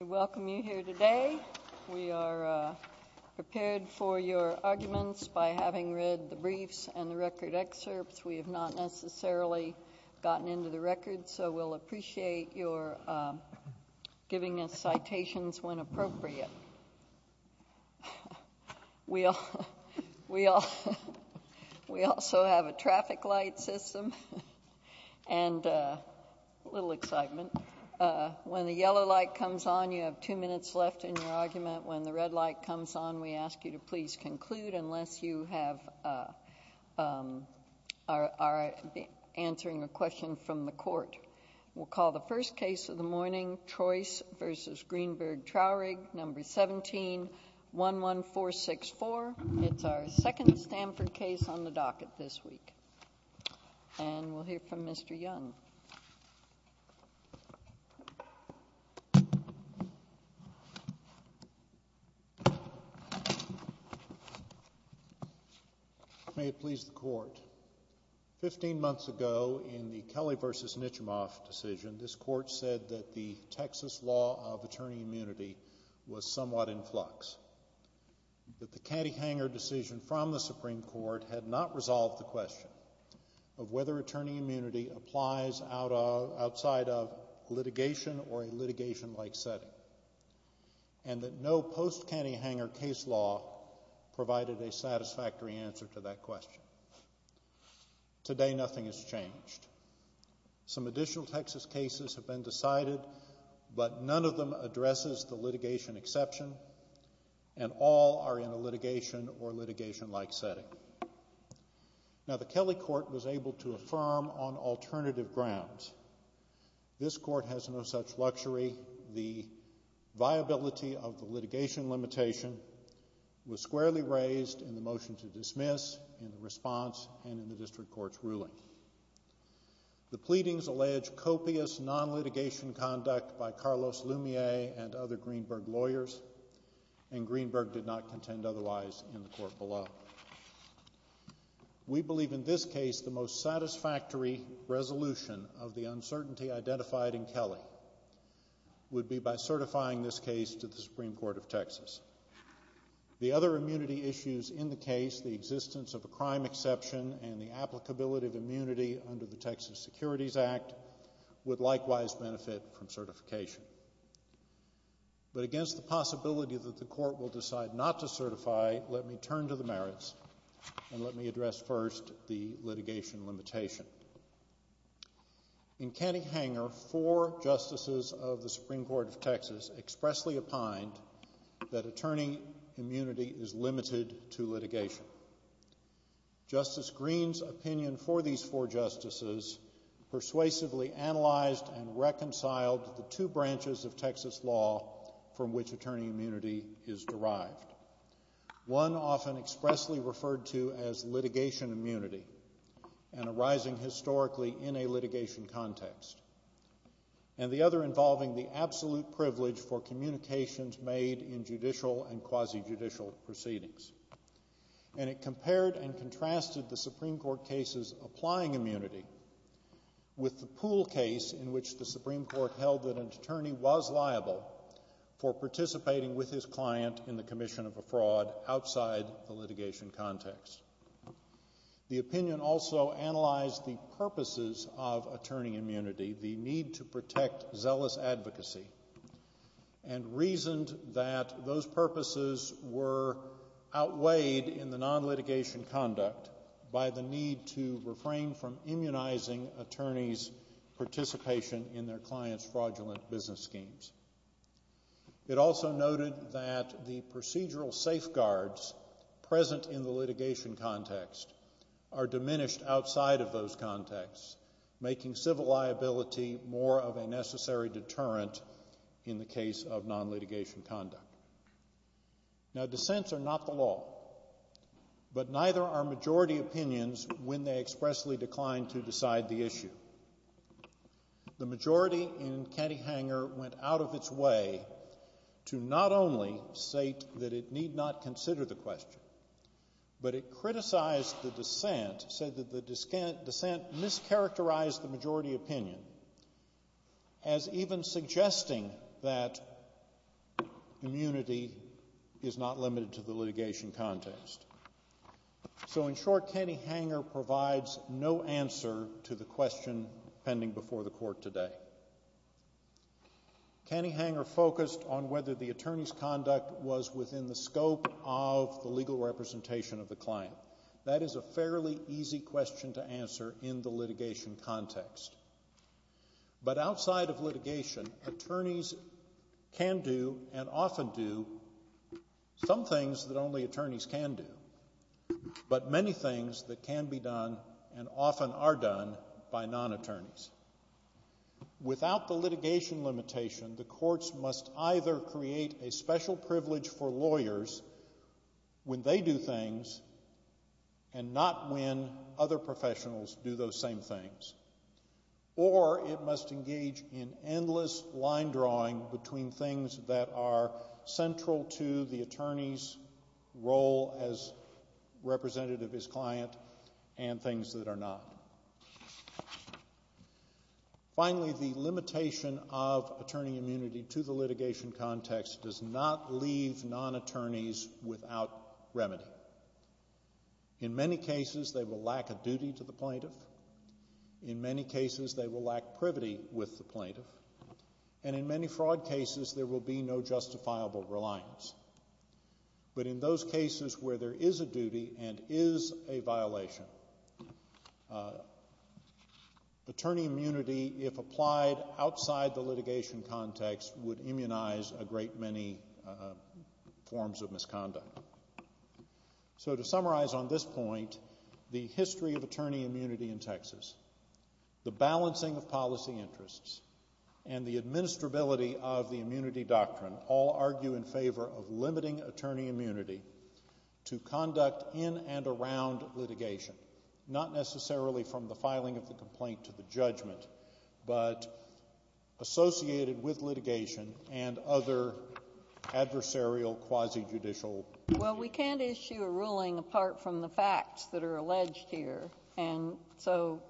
We welcome you here today. We are prepared for your arguments by having read the briefs and the record excerpts. We have not necessarily gotten into the records, so we'll appreciate your giving us citations when appropriate. We also have a traffic light system, and a yellow light comes on, you have two minutes left in your argument. When the red light comes on, we ask you to please conclude unless you are answering a question from the court. We'll call the first case of the morning, Trois v. Greenberg-Traurig, No. 17-11464. It's our second Stanford case on the docket this week. And we'll hear from Mr. Young. May it please the court. Fifteen months ago, in the Kelly v. Nitchimoff decision, this court said that the Texas law of attorney immunity was somewhat in flux. But the catty-hanger decision from the Supreme Court had not resolved the question of whether attorney immunity applies outside of litigation or a litigation-like setting. And that no post-catty-hanger case law provided a satisfactory answer to that question. Today, nothing has changed. Some additional Texas cases have been decided, but none of them addresses the litigation exception, and all are in a litigation or litigation-like setting. Now, the Kelly court was able to affirm on alternative grounds. This court has no such luxury. The viability of the litigation limitation was squarely raised in the motion to dismiss, in the response, and in the district court's ruling. The pleadings allege copious non-litigation conduct by Carlos Lumiere and other Greenberg lawyers, and Greenberg did not contend otherwise in the court below. We believe, in this case, the most satisfactory resolution of the uncertainty identified in Kelly would be by certifying this case to the Supreme Court of Texas. The other immunity issues in the case, the existence of a crime exception and the applicability of immunity under the Texas Securities Act, would likewise benefit from certification. But against the merits, and let me address first the litigation limitation. In Kelly-hanger, four justices of the Supreme Court of Texas expressly opined that attorney immunity is limited to litigation. Justice Green's opinion for these four justices persuasively analyzed and reconciled the two issues. One was precisely referred to as litigation immunity, and arising historically in a litigation context, and the other involving the absolute privilege for communications made in judicial and quasi-judicial proceedings. And it compared and contrasted the Supreme Court case's applying immunity with the pool case in which the Supreme Court held that an attorney was liable for participating with his client in the commission of a fraud outside the litigation context. The opinion also analyzed the purposes of attorney immunity, the need to protect zealous advocacy, and reasoned that those purposes were outweighed in the non-litigation conduct by the need to refrain from immunizing attorneys' participation in their clients' fraudulent business schemes. It also noted that the procedural safeguards present in the litigation context are diminished outside of those contexts, making civil liability more of a necessary deterrent in the case of non-litigation conduct. Now dissents are not the law, but neither are majority opinions when they expressly decline to decide the issue. The majority in Kelly-hanger went out of its way to not only state that it need not consider the question, but it criticized the dissent, said that the dissent mischaracterized the majority opinion as even suggesting that immunity is not limited to the litigation context. So in short, Kenny-hanger provides no answer to the question pending before the court today. Kenny-hanger focused on whether the attorney's conduct was within the scope of the legal representation of the client. That is a fairly easy question to answer in the litigation context. But outside of litigation, attorneys can do and often do some things that only attorneys can do, but many things that can be done and often are done by non-attorneys. Without the litigation limitation, the courts either create a special privilege for lawyers when they do things and not when other professionals do those same things. Or it must engage in endless line drawing between things that are central to the attorney's role as representative of his client and things that are not. Finally, the limitation of attorney immunity to the litigation context does not leave non-attorneys without remedy. In many cases, they will lack a duty to the plaintiff. In many cases, they will lack privity with the plaintiff. And in many fraud cases, there will be no justifiable reliance. But in those cases where there is a duty and is a violation, the attorney's responsibility, attorney immunity, if applied outside the litigation context, would immunize a great many forms of misconduct. So to summarize on this point, the history of attorney immunity in Texas, the balancing of policy interests, and the administrability of the immunity doctrine all argue in favor of limiting attorney immunity to conduct in and around litigation, not necessarily from the filing of the complaint to the judgment, but associated with litigation and other adversarial quasi-judicial issues. Well, we can't issue a ruling apart from the facts that are alleged here. And so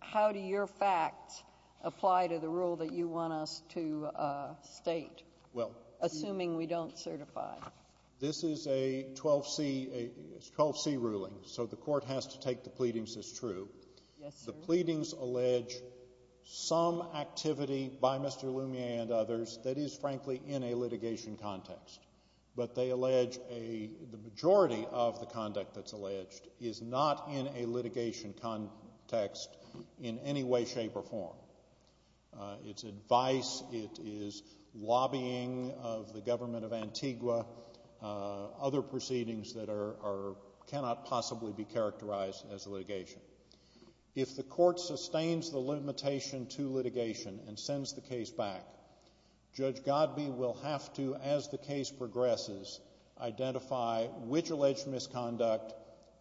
how do your facts apply to the rule that you want us to state, assuming we don't certify? This is a 12C ruling, so the court has to take the pleadings as true. The pleadings allege some activity by Mr. Lumiere and others that is, frankly, in a litigation context. But they allege the majority of the conduct that's alleged is not in a litigation context in any way, shape, or form. It's advice, it is lobbying of the government of Antigua, other proceedings that cannot possibly be characterized as litigation. If the court sustains the limitation to litigation and sends the case back, Judge Godbee will have to, as the case progresses, identify which alleged misconduct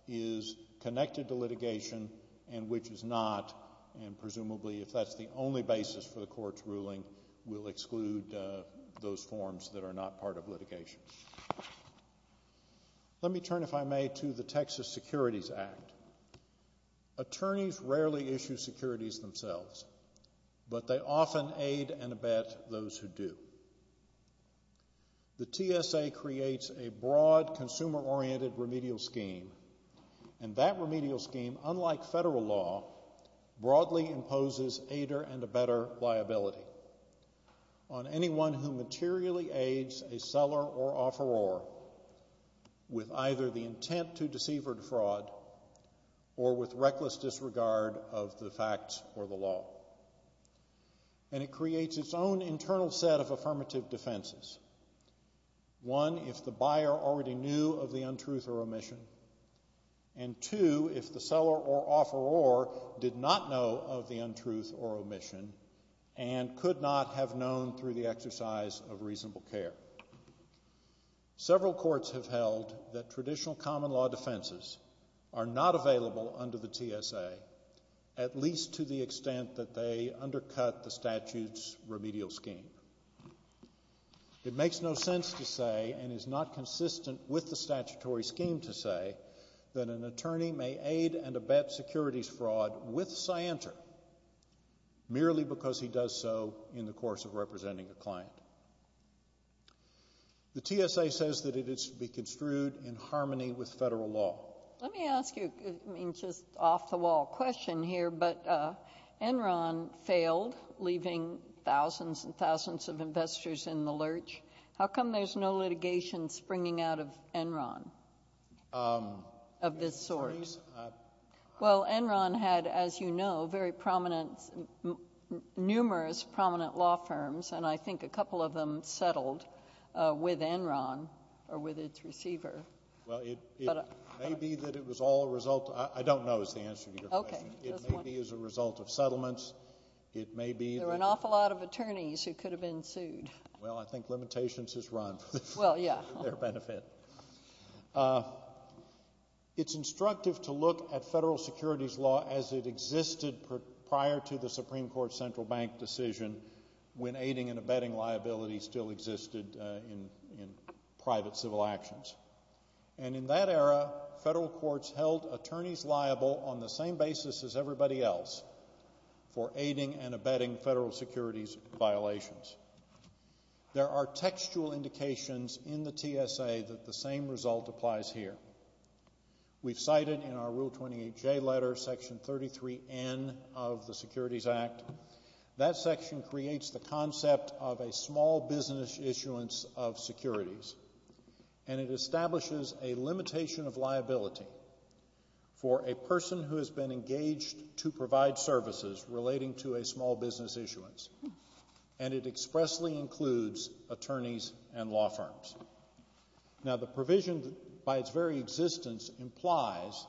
is connected to litigation and which is not, and presumably, if that's the only basis for the court's ruling, will exclude those forms that are not part of litigation. Let me turn, if I may, to the Texas Securities Act. Attorneys rarely issue securities themselves, but they often aid and abet those who do. The TSA creates a broad, consumer-oriented remedial scheme, and that remedial scheme, unlike federal law, broadly imposes aider and abetter liability on anyone who materially aids a seller or offeror with either the intent to deceive or defraud or with reckless disregard of the facts or the law. And it creates its own internal set of affirmative defenses. One, if the buyer already knew of the untruth or omission, and two, if the seller or offeror did not know of the untruth or omission and could not have known through the exercise of reasonable care. Several courts have held that traditional common law defenses are not available under the TSA, at least to the extent that they undercut the statute's remedial scheme. It makes no sense to say, and is not consistent with the statutory scheme to say, that an attorney may aid and abet securities fraud with scienter merely because he does so in the course of representing a client. The TSA says that it is to be construed in harmony with federal law. Let me ask you, I mean, just off-the-wall question here, but Enron failed, leaving thousands and thousands of investors in the lurch. How come there's no litigation springing out of Enron of this sort? Well, Enron had, as you know, very prominent, numerous prominent law firms, and I think a couple of them settled with Enron or with its receiver. Well, it may be that it was all a result of, I don't know is the answer to your question. It may be as a result of settlements. It may be that there were an awful lot of attorneys who could have been sued. Well, I think limitations is run for their benefit. It's instructive to look at federal securities law as it existed prior to the Supreme Court Central Bank decision when aiding and abetting liability still existed in private civil actions. And in that era, federal courts held attorneys liable on the same basis as everybody else for aiding and abetting federal securities violations. There are textual indications in the TSA that the same result applies here. We've cited in our Rule 28J letter Section 33N of the Securities Act. That section creates the concept of a small business issuance of securities, and it establishes a limitation of liability for a person who has been engaged to provide services relating to a small business issuance, and it expressly includes attorneys and law firms. Now the provision by its very existence implies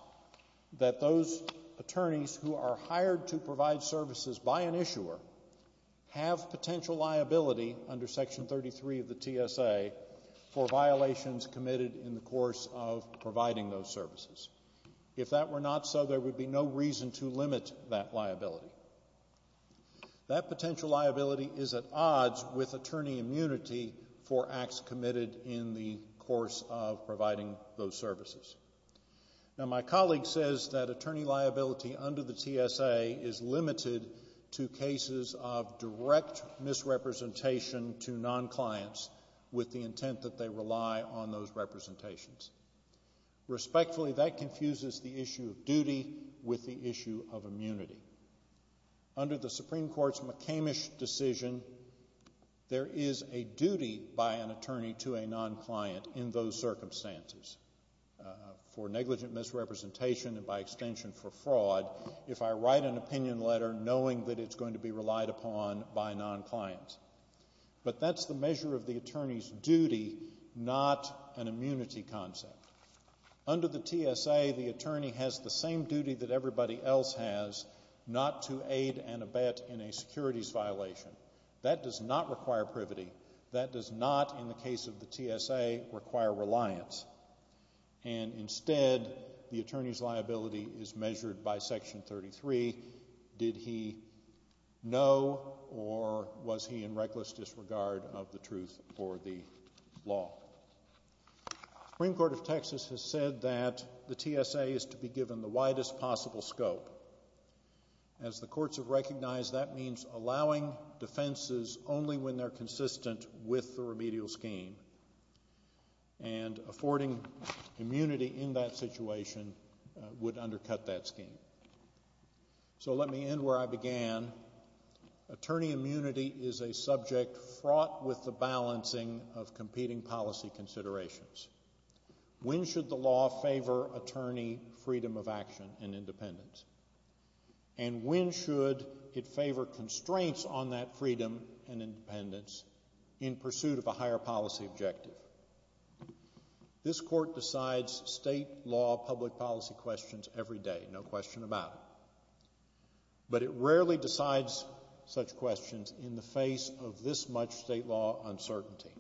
that those attorneys who are hired to provide services by an issuer have potential liability under Section 33 of the TSA for violations committed in the course of providing those services. If that were not so, there would be no reason to limit that liability. That potential liability is at odds with attorney immunity for acts committed in the course of providing those services. Now my colleague says that attorney liability under the TSA is limited to cases of direct misrepresentation to non-clients with the intent that they rely on those representations. Respectfully, that confuses the issue of duty with the issue of immunity. Under the Supreme Court's McCamish decision, there is a duty by an attorney to a non-client in those circumstances. For negligent misrepresentation and by extension for fraud, if I write an opinion letter knowing that it's going to be relied upon by a non-client. But that's the measure of the attorney's duty, not an immunity concept. Under the TSA, the attorney has the same duty that everybody else has, not to aid and abet in a securities violation. That does not require privity. That does not, in the case of the TSA, require reliance. And instead, the attorney's liability is measured by Section 33. Did he know or was he in reckless disregard of the truth or the law? The Supreme Court of Texas has said that the TSA is to be given the widest possible scope. As the courts have recognized, that means allowing defenses only when they're consistent with the remedial scheme. And affording immunity in that situation would undercut that scheme. So let me end where I began. Attorney immunity is a subject fraught with the balancing of competing policy considerations. When should the law favor attorney freedom of action and independence? And when should it favor constraints on that freedom and independence in pursuit of a higher policy objective? This court decides state law public policy questions every day, no question about it. But it rarely decides such questions in the face of this much state law uncertainty.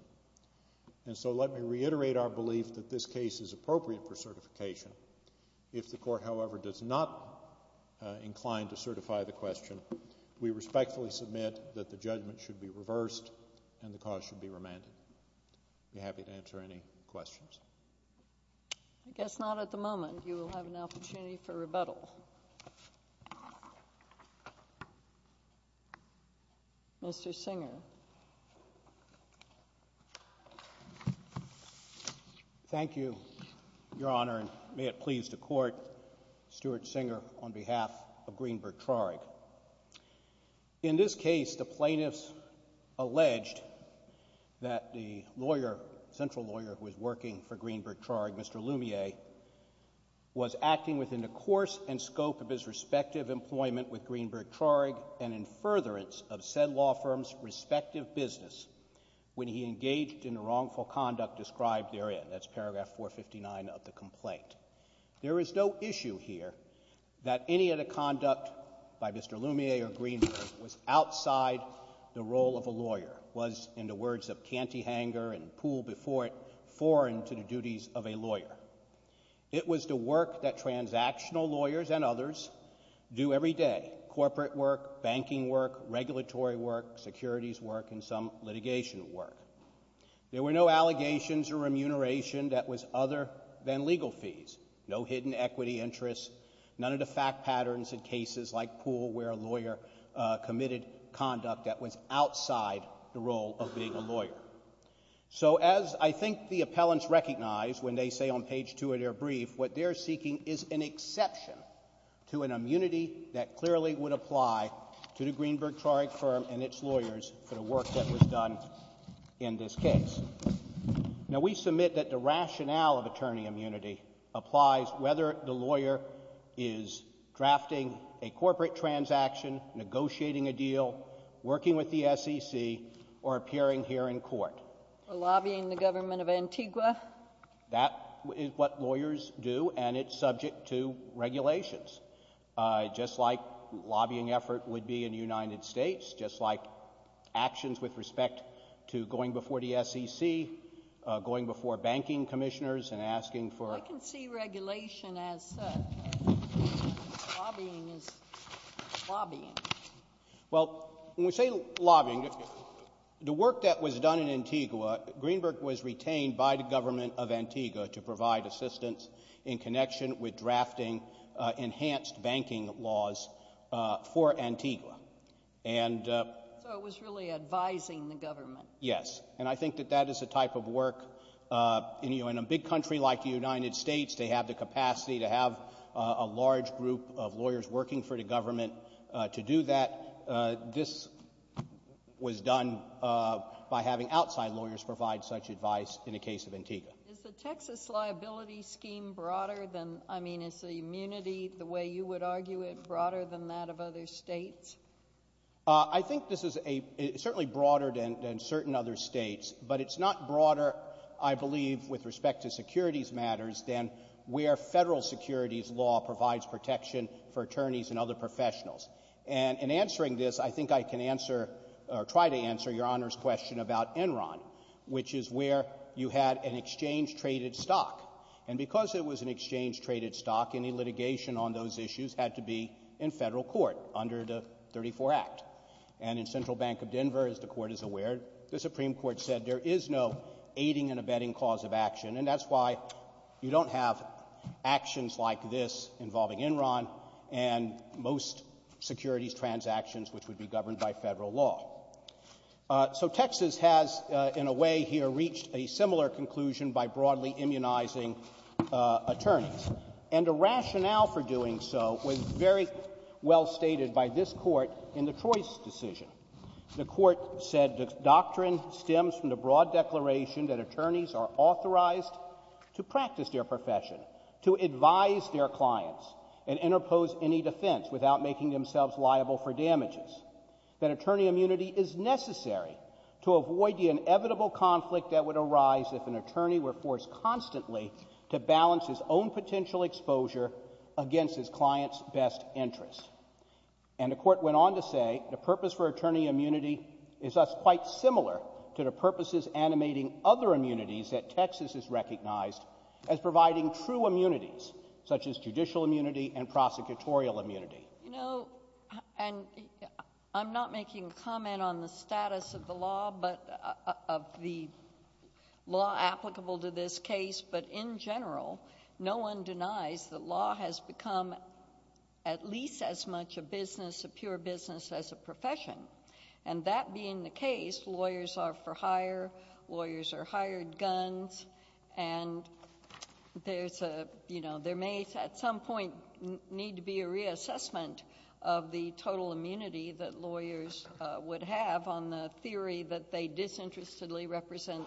And so let me reiterate our belief that this case is appropriate for certification. If the court, however, does not incline to certify the question, we respectfully submit that the judgment should be reversed and the cause should be remanded. I'd be happy to answer any questions. I guess not at the moment. You will have an opportunity for rebuttal. Mr. Singer. Thank you, Your Honor, and may it please the Court, Stuart Singer, on behalf of Greenberg Traurig. In this case, the plaintiffs alleged that the lawyer, central lawyer who was working for Greenberg Traurig, Mr. Lumiere, was acting within the course and scope of his respective employment with Greenberg Traurig and in furtherance of said law firm's respective business when he engaged in the wrongful conduct described therein. That's paragraph 459 of the complaint. There is no issue here that any of the conduct by Mr. Lumiere or Greenberg was outside the role of a lawyer, was, in the words of Cantyhanger and Poole before it, foreign to the duties of a lawyer. It was the work that transactional lawyers and others do every day, corporate work, banking work, regulatory work, securities work, and some litigation work. There were no allegations or remuneration that was other than legal fees, no hidden equity interests, none of the fact patterns in cases like Poole where a lawyer committed conduct that was outside the role of being a lawyer. So as I think the appellants recognize when they say on page 2 of their brief, what they're seeking is an exception to an immunity that clearly would apply to the Greenberg Traurig firm and its lawyers for the work that was done in this case. Now we submit that the rationale of attorney immunity applies whether the lawyer is drafting a corporate transaction, negotiating a deal, working with the SEC, or appearing here in court. For lobbying the government of Antigua? That is what lawyers do, and it's subject to regulations. Just like lobbying effort would be in the United States, just like actions with respect to going before the SEC, going before banking commissioners, and asking for- I can see regulation as lobbying is lobbying. Well, when we say lobbying, the work that was done in Antigua, Greenberg was retained by the government of Antigua to provide assistance in connection with drafting enhanced banking laws for Antigua. And- So it was really advising the government. Yes. And I think that that is the type of work, you know, in a big country like the United States, they have the capacity to have a large group of lawyers working for the government to do that. And this was done by having outside lawyers provide such advice in the case of Antigua. Is the Texas liability scheme broader than- I mean, is the immunity, the way you would argue it, broader than that of other states? I think this is a- it's certainly broader than certain other states, but it's not broader, I believe, with respect to securities matters than where Federal securities law provides protection for attorneys and other professionals. And in answering this, I think I can answer or try to answer Your Honor's question about Enron, which is where you had an exchange-traded stock. And because it was an exchange-traded stock, any litigation on those issues had to be in Federal court under the 34 Act. And in Central Bank of Denver, as the Court is aware, the Supreme Court said there is no aiding and abetting cause of action, and that's why you don't have actions like this involving Enron and most securities transactions, which would be governed by Federal law. So Texas has, in a way here, reached a similar conclusion by broadly immunizing attorneys. And the rationale for doing so was very well stated by this Court in the Troy's decision. The Court said the doctrine stems from the broad declaration that attorneys are authorized to practice their profession, to advise their clients, and interpose any defense without making themselves liable for damages, that attorney immunity is necessary to avoid the inevitable conflict that would arise if an attorney were forced constantly to balance his own potential exposure against his client's best interest. And the Court went on to say the purpose for attorney immunity is thus quite similar to the purposes animating other immunities that Texas has recognized as providing true immunities, such as judicial immunity and prosecutorial immunity. You know, and I'm not making a comment on the status of the law, but of the law applicable to this case, but in general, no one denies that law has become at least as much a business, a pure business, as a profession. And that being the case, lawyers are for hire, lawyers are hired guns, and there's a, you know, there may at some point need to be a reassessment of the total immunity that lawyers would have on the theory that they disinterestedly represent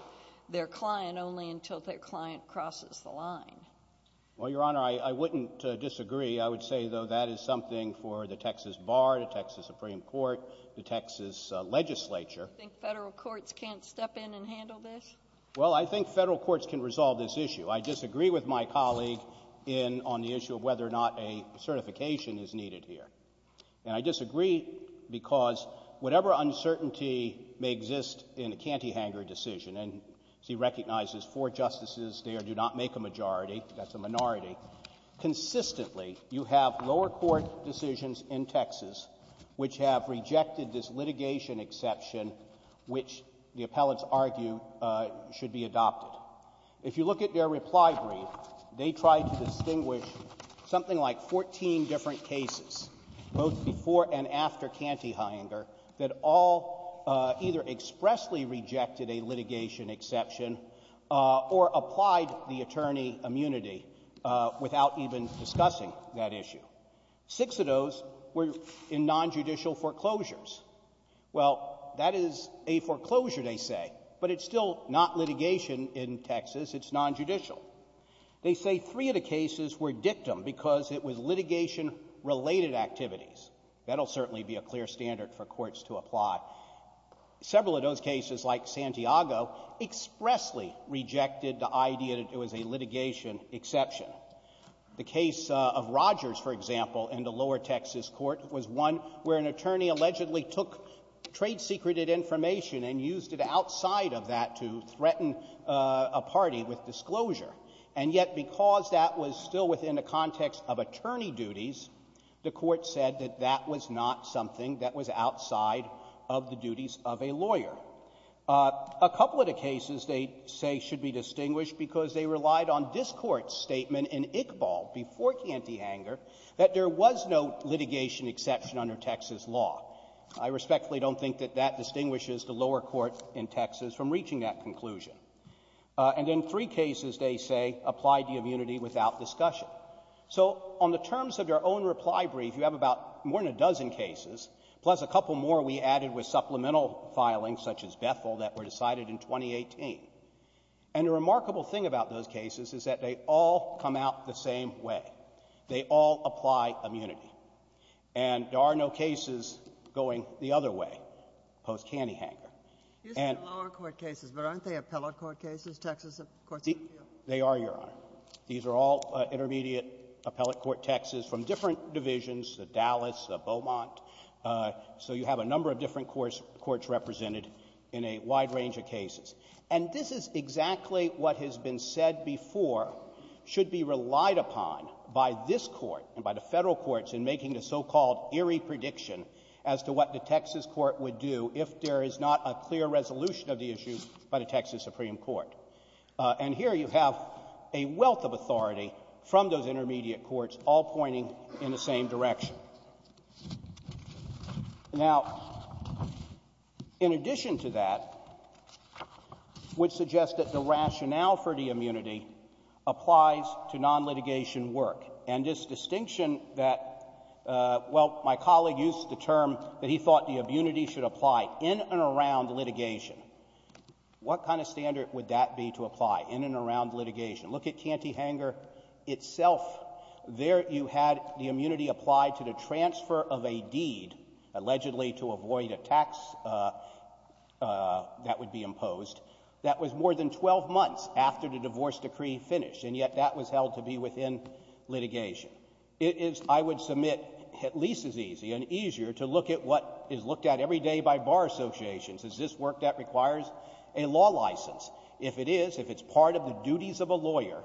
their client only until their client crosses the line. Well, Your Honor, I wouldn't disagree. I would say, though, that is something for the Texas Bar, the Texas Supreme Court, the Texas legislature. Do you think Federal courts can't step in and handle this? Well, I think Federal courts can resolve this issue. I disagree with my colleague in — on the issue of whether or not a certification is needed here. And I disagree because whatever uncertainty may exist in a cantyhanger decision — and he recognizes four justices there do not make a majority, that's a minority — consistently you have lower court decisions in Texas which have rejected this litigation exception which the appellants argue should be adopted. If you look at their reply brief, they tried to distinguish something like 14 different cases, both before and after cantyhanger, that all either expressly rejected a litigation exception or applied the attorney immunity without even discussing that issue. Six of those were in nonjudicial foreclosures. Well, that is a foreclosure, they say, but it's still not litigation in Texas. It's nonjudicial. They say three of the cases were dictum because it was litigation-related activities. That will certainly be a clear standard for courts to apply. Several of those cases, like Santiago, expressly rejected the idea that it was a litigation exception. The case of Rogers, for example, in the lower Texas court, was one where an attorney allegedly took trade-secreted information and used it outside of that to threaten a party with disclosure. And yet because that was still within the context of attorney duties, the Court said that that was not something that was outside of the duties of a lawyer. A couple of the cases they say should be distinguished because they relied on this Court's statement in Iqbal before cantyhanger that there was no litigation exception under Texas law. I respectfully don't think that that distinguishes the lower court in Texas from reaching that conclusion. And then three cases, they say, applied the immunity without discussion. So on the terms of your own reply brief, you have about more than a dozen cases, plus a couple more we added with supplemental filings, such as Bethel, that were decided in 2018. And the remarkable thing about those cases is that they all come out the same way. They all apply immunity. And there are no cases going the other way post-cantyhanger. And — You said lower court cases, but aren't they appellate court cases, Texas courts of appeals? They are, Your Honor. These are all intermediate appellate court texts from different divisions, the Dallas, the Beaumont. So you have a number of different courts represented in a wide range of cases. And this is exactly what has been said before should be relied upon by this Court and by the Federal courts in making the so-called eerie prediction as to what the Texas court would do if there is not a clear resolution of the issue by the Texas Supreme Court. And here you have a wealth of authority from those intermediate courts, all pointing in the same direction. Now, in addition to that, which suggests that the rationale for the immunity applies to non-litigation work, and this distinction that — well, my colleague used the term that he thought the immunity should apply in and around litigation. What kind of standard would that be to apply in and around litigation? Look at Cantyhanger itself. There you had the immunity applied to the transfer of a deed, allegedly to avoid a tax that would be imposed. That was more than 12 months after the divorce decree finished, and yet that was held to be within litigation. It is, I would submit, at least as easy and easier to look at what is looked at every day by bar associations. Is this work that requires a law license? If it is, if it's part of the duties of a lawyer,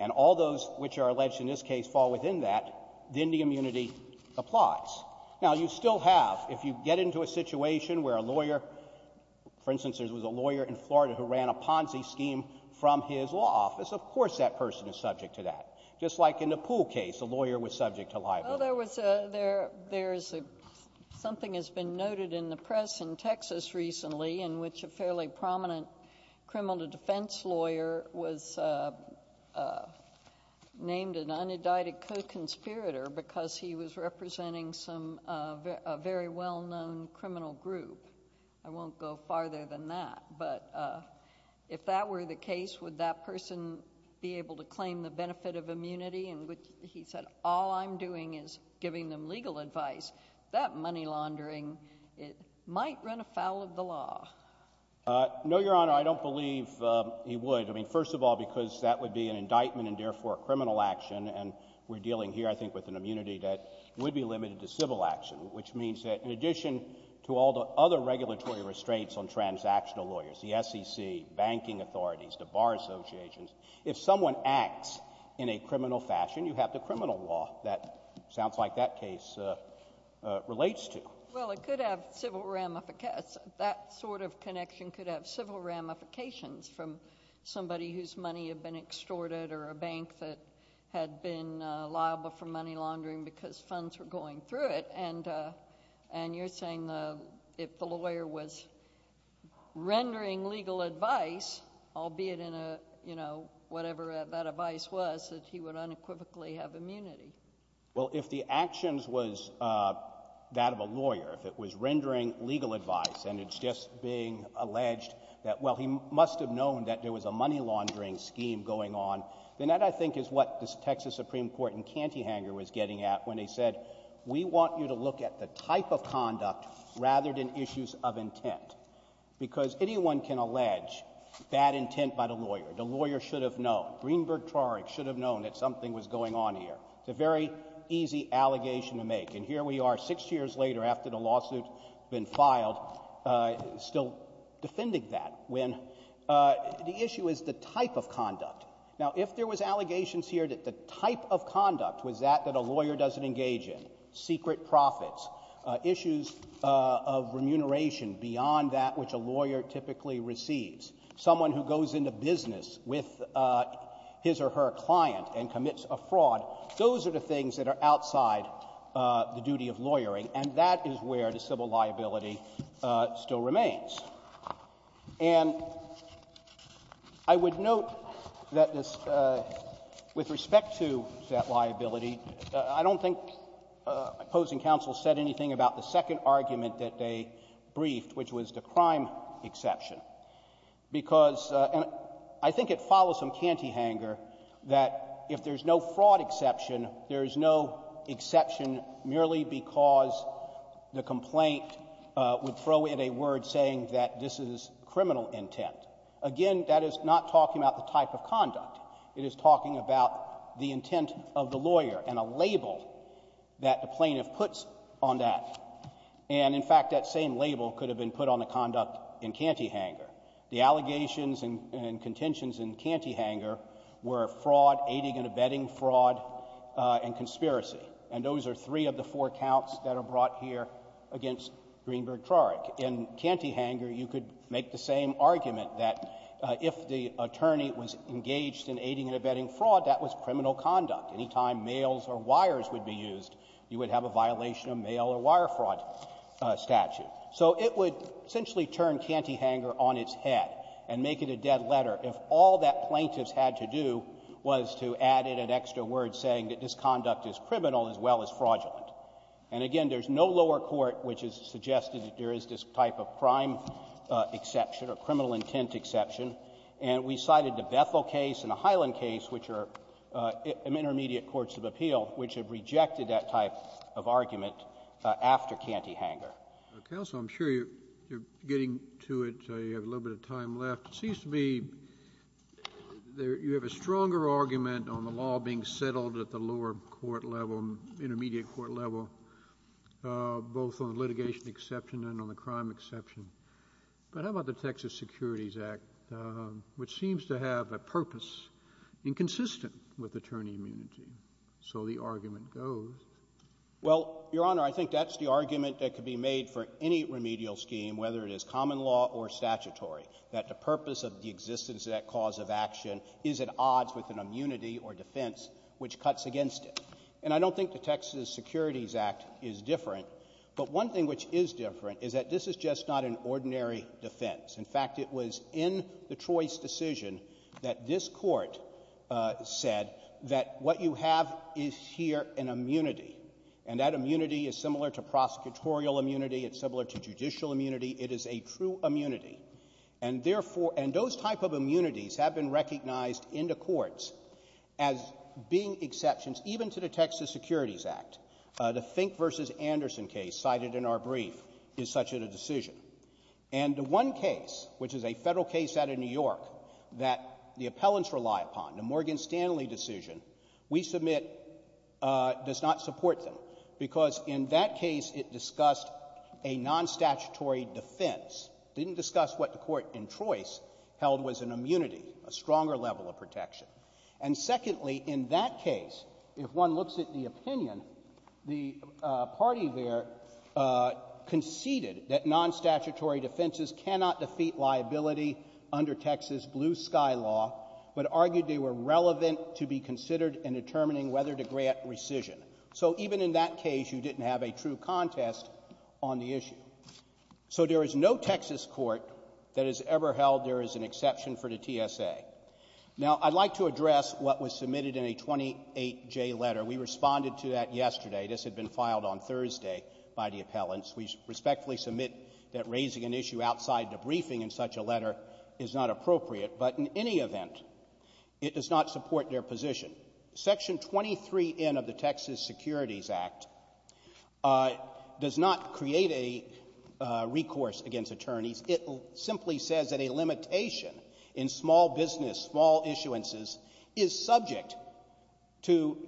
and all those which are alleged in this case fall within that, then the immunity applies. Now, you still have, if you get into a situation where a lawyer — for instance, there was a lawyer in Florida who ran a Ponzi scheme from his law office, of course that person is subject to that. Just like in the Poole case, a lawyer was subject to liability. Well, there's something that's been noted in the press in Texas recently in which a fairly prominent criminal defense lawyer was named an unindicted co-conspirator because he was representing a very well-known criminal group. I won't go farther than that, but if that were the case, would that person be able to give them legal advice? That money laundering might run afoul of the law. No, Your Honor, I don't believe he would. I mean, first of all, because that would be an indictment and therefore a criminal action, and we're dealing here, I think, with an immunity that would be limited to civil action, which means that in addition to all the other regulatory restraints on transactional lawyers, the SEC, banking authorities, the bar associations, if someone acts in a criminal fashion, you have the criminal law that sounds like that case relates to. Well, it could have civil ramifications. That sort of connection could have civil ramifications from somebody whose money had been extorted or a bank that had been liable for money laundering because funds were going through it, and you're saying if the lawyer was rendering legal advice, albeit in a, you know, whatever that advice was, that he would unequivocally have immunity. Well, if the actions was that of a lawyer, if it was rendering legal advice and it's just being alleged that, well, he must have known that there was a money laundering scheme going on, then that, I think, is what the Texas Supreme Court in Cantyhanger was getting at when they said, we want you to look at the type of conduct rather than issues of intent because anyone can allege bad intent by the lawyer. The lawyer should have known. Greenberg-Trarick should have known that something was going on here. It's a very easy allegation to make, and here we are six years later after the lawsuit's been filed still defending that when the issue is the type of conduct. Now, if there was allegations here that the type of conduct was that that a lawyer doesn't engage in, secret profits, issues of remuneration beyond that which a lawyer typically receives, someone who goes into business with his or her client and commits a fraud, those are the things that are outside the duty of lawyering, and that is where the civil liability still remains. And I would note that this — with respect to that liability, I don't think opposing counsel said anything about the second argument that they briefed, which was the crime exception, because — and I think it follows from cantyhanger that if there's no fraud exception, there is no exception merely because the complaint would throw in a word saying that this is criminal intent. Again, that is not talking about the type of conduct. It is talking about the intent of the lawyer and a label that the plaintiff puts on that. And, in fact, that same label could have been put on the conduct in cantyhanger. The allegations and contentions in cantyhanger were fraud, aiding and abetting fraud, and conspiracy. And those are three of the four counts that are brought here against Greenberg-Trorik. In cantyhanger, you could make the same argument that if the attorney was engaged in aiding and abetting fraud, that was criminal conduct. Anytime mails or wires would be used, you would have a violation of mail or wire fraud statute. So it would essentially turn cantyhanger on its head and make it a dead letter if all that plaintiff's had to do was to add in an extra word saying that this conduct is criminal as well as fraudulent. And, again, there's no lower court which has suggested that there is this type of crime exception or criminal intent exception. And we cited the Bethel case and the Highland case, which are intermediate courts of appeal, which have rejected that type of argument after cantyhanger. Counsel, I'm sure you're getting to it. You have a little bit of time left. It seems to me you have a stronger argument on the law being settled at the lower court level, intermediate court level, both on litigation exception and on the crime exception. But how about the Texas Securities Act, which seems to have a purpose inconsistent with attorney immunity? So the argument goes. Well, Your Honor, I think that's the argument that could be made for any remedial scheme, whether it is common law or statutory, that the purpose of the existence of that cause of action is at odds with an immunity or defense which cuts against it. And I don't think the Texas Securities Act is different. But one thing which is different is that this is just not an ordinary defense. In fact, it was in the Troy's decision that this Court said that what you have is here an immunity. And that immunity is similar to prosecutorial immunity. It's similar to judicial immunity. It is a true immunity. And therefore — and those type of immunities have been recognized in the courts as being exceptions, even to the Texas Securities Act. The Fink v. Anderson case cited in our brief is such a decision. And the one case, which is a Federal case out of New York, that the appellants rely upon, the Morgan Stanley decision, we submit does not support them. Because in that case, it discussed a non-statutory defense. It didn't discuss what the Court in Troy's held was an immunity, a stronger level of protection. And secondly, in that case, if one looks at the opinion, the party there conceded that non-statutory defenses cannot defeat liability under Texas blue-sky law, but argued they were relevant to be considered in determining whether to grant rescission. So even in that case, you didn't have a true contest on the issue. So there is no Texas court that has ever held there is an exception for the TSA. Now, I'd like to address what was submitted in a 28J letter. We responded to that yesterday. This had been filed on Thursday by the appellants. We respectfully submit that raising an issue outside the briefing in such a letter is not appropriate. But in any event, it does not support their position. Section 23N of the Texas Securities Act does not create a recourse against attorneys. It simply says that a limitation in small business, small issuances, is subject to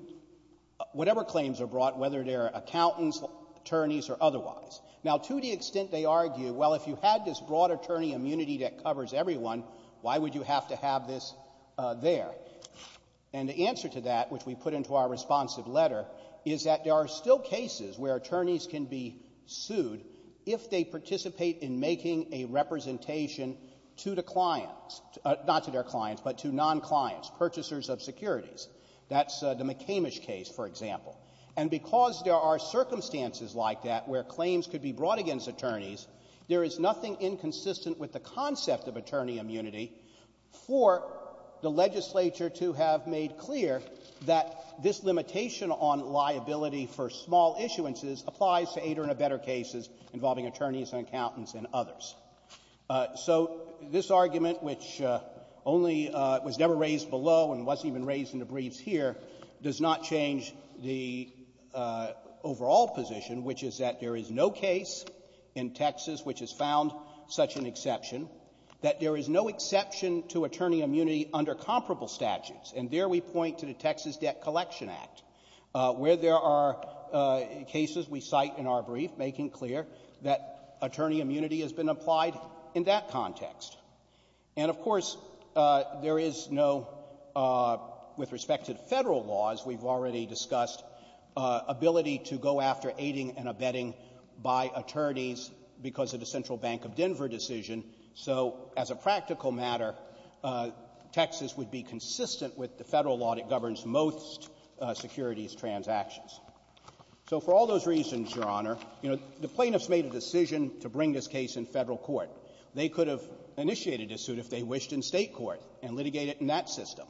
whatever claims are brought, whether they're accountants, attorneys, or otherwise. Now, to the extent they argue, well, if you had this broad attorney immunity that covers everyone, why would you have to have this there? And the answer to that, which we put into our responsive letter, is that there are still cases where attorneys can be sued if they participate in making a representation to the clients — not to their clients, but to non-clients, purchasers of securities. That's the McCamish case, for example. And because there are circumstances like that where claims could be brought against attorneys, there is nothing inconsistent with the concept of attorney immunity for the legislature to have made clear that this limitation on liability for small issuances applies to eight or better cases involving attorneys and accountants and others. So this argument, which only was never raised below and wasn't even raised in the briefs here, does not change the overall position, which is that there is no case in Texas which has found such an exception, that there is no exception to attorney immunity under comparable statutes. And there we point to the Texas Debt Collection Act, where there are cases we cite in our brief making clear that attorney immunity has been applied in that context. And, of course, there is no, with respect to the Federal laws we've already discussed, ability to go after aiding and abetting by attorneys because of the Federal law that governs most securities transactions. So for all those reasons, Your Honor, you know, the plaintiffs made a decision to bring this case in Federal court. They could have initiated a suit if they wished in State court and litigated in that system.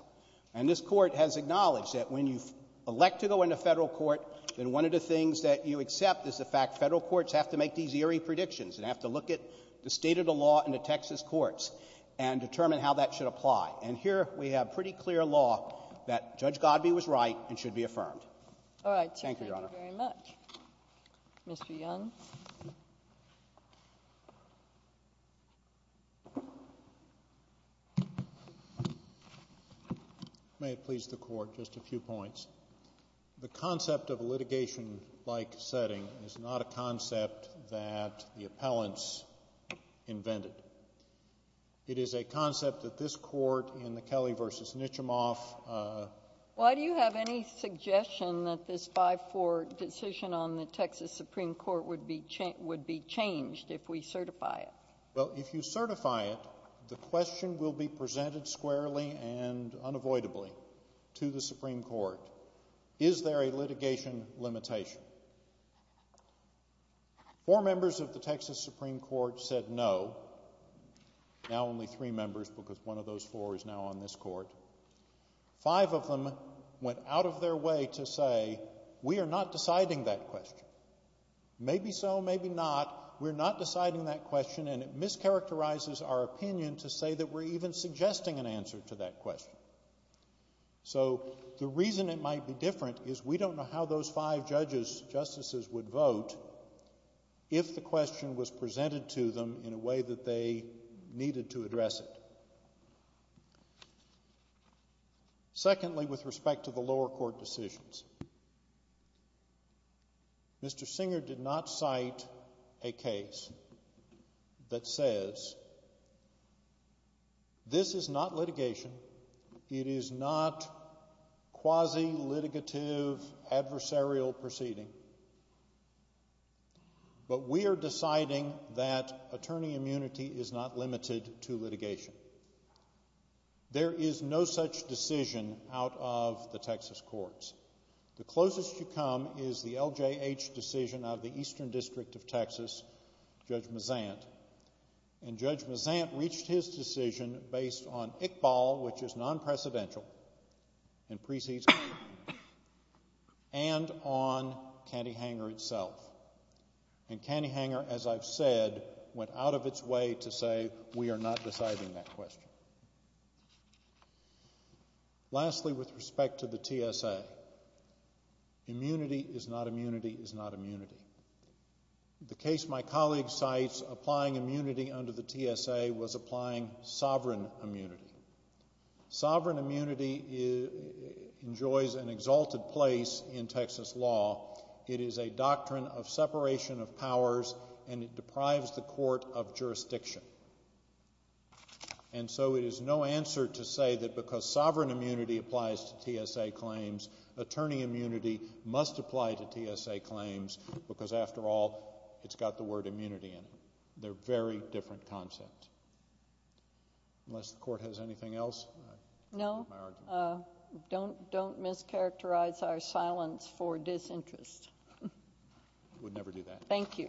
And this Court has acknowledged that when you elect to go into Federal court, then one of the things that you accept is the fact Federal courts have to make these eerie predictions and have to look at the state of the law in the Texas courts and determine how that should apply. And here we have pretty clear law that Judge Godbee was right and should be affirmed. All right. Thank you, Your Honor. Thank you very much. Mr. Young. May it please the Court, just a few points. The concept of a litigation-like setting is not a concept that the appellants invented. It is a concept that this Court in the Kelly v. Nitchimoff... Why do you have any suggestion that this 5-4 decision on the Texas Supreme Court would be changed if we certify it? Well, if you certify it, the question will be presented squarely and unavoidably to the Supreme Court. Is there a litigation limitation? Four members of the Texas Supreme Court said no, now only three members because one of those four is now on this Court. Five of them went out of their way to say, we are not deciding that question. Maybe so, maybe not. We're not deciding that question and it mischaracterizes our opinion to say that we're even suggesting an answer to that question. So the reason it might be different is we don't know how those five judges or those justices would vote if the question was presented to them in a way that they needed to address it. Secondly, with respect to the lower court decisions, Mr. Singer did not cite a case that says this is not litigation, it is not quasi-litigative adversarial proceeding, but we are deciding that attorney immunity is not limited to litigation. There is no such decision out of the Texas courts. The closest you come is the LJH decision out of the Eastern District of Texas, Judge Mazant, and Judge Mazant reached his decision based on Iqbal, which is one, Cantyhanger itself. And Cantyhanger, as I've said, went out of its way to say we are not deciding that question. Lastly, with respect to the TSA, immunity is not immunity is not immunity. The case my colleague cites applying immunity under the TSA was applying sovereign immunity. Sovereign immunity enjoys an exalted place in Texas law. It is a doctrine of separation of powers and it deprives the court of jurisdiction. And so it is no answer to say that because sovereign immunity applies to TSA claims, attorney immunity must apply to TSA claims because, after all, it's got the word immunity in it. They're very different concepts. Unless the court has anything else? No. Don't mischaracterize our silence for disinterest. I would never do that. Thank you.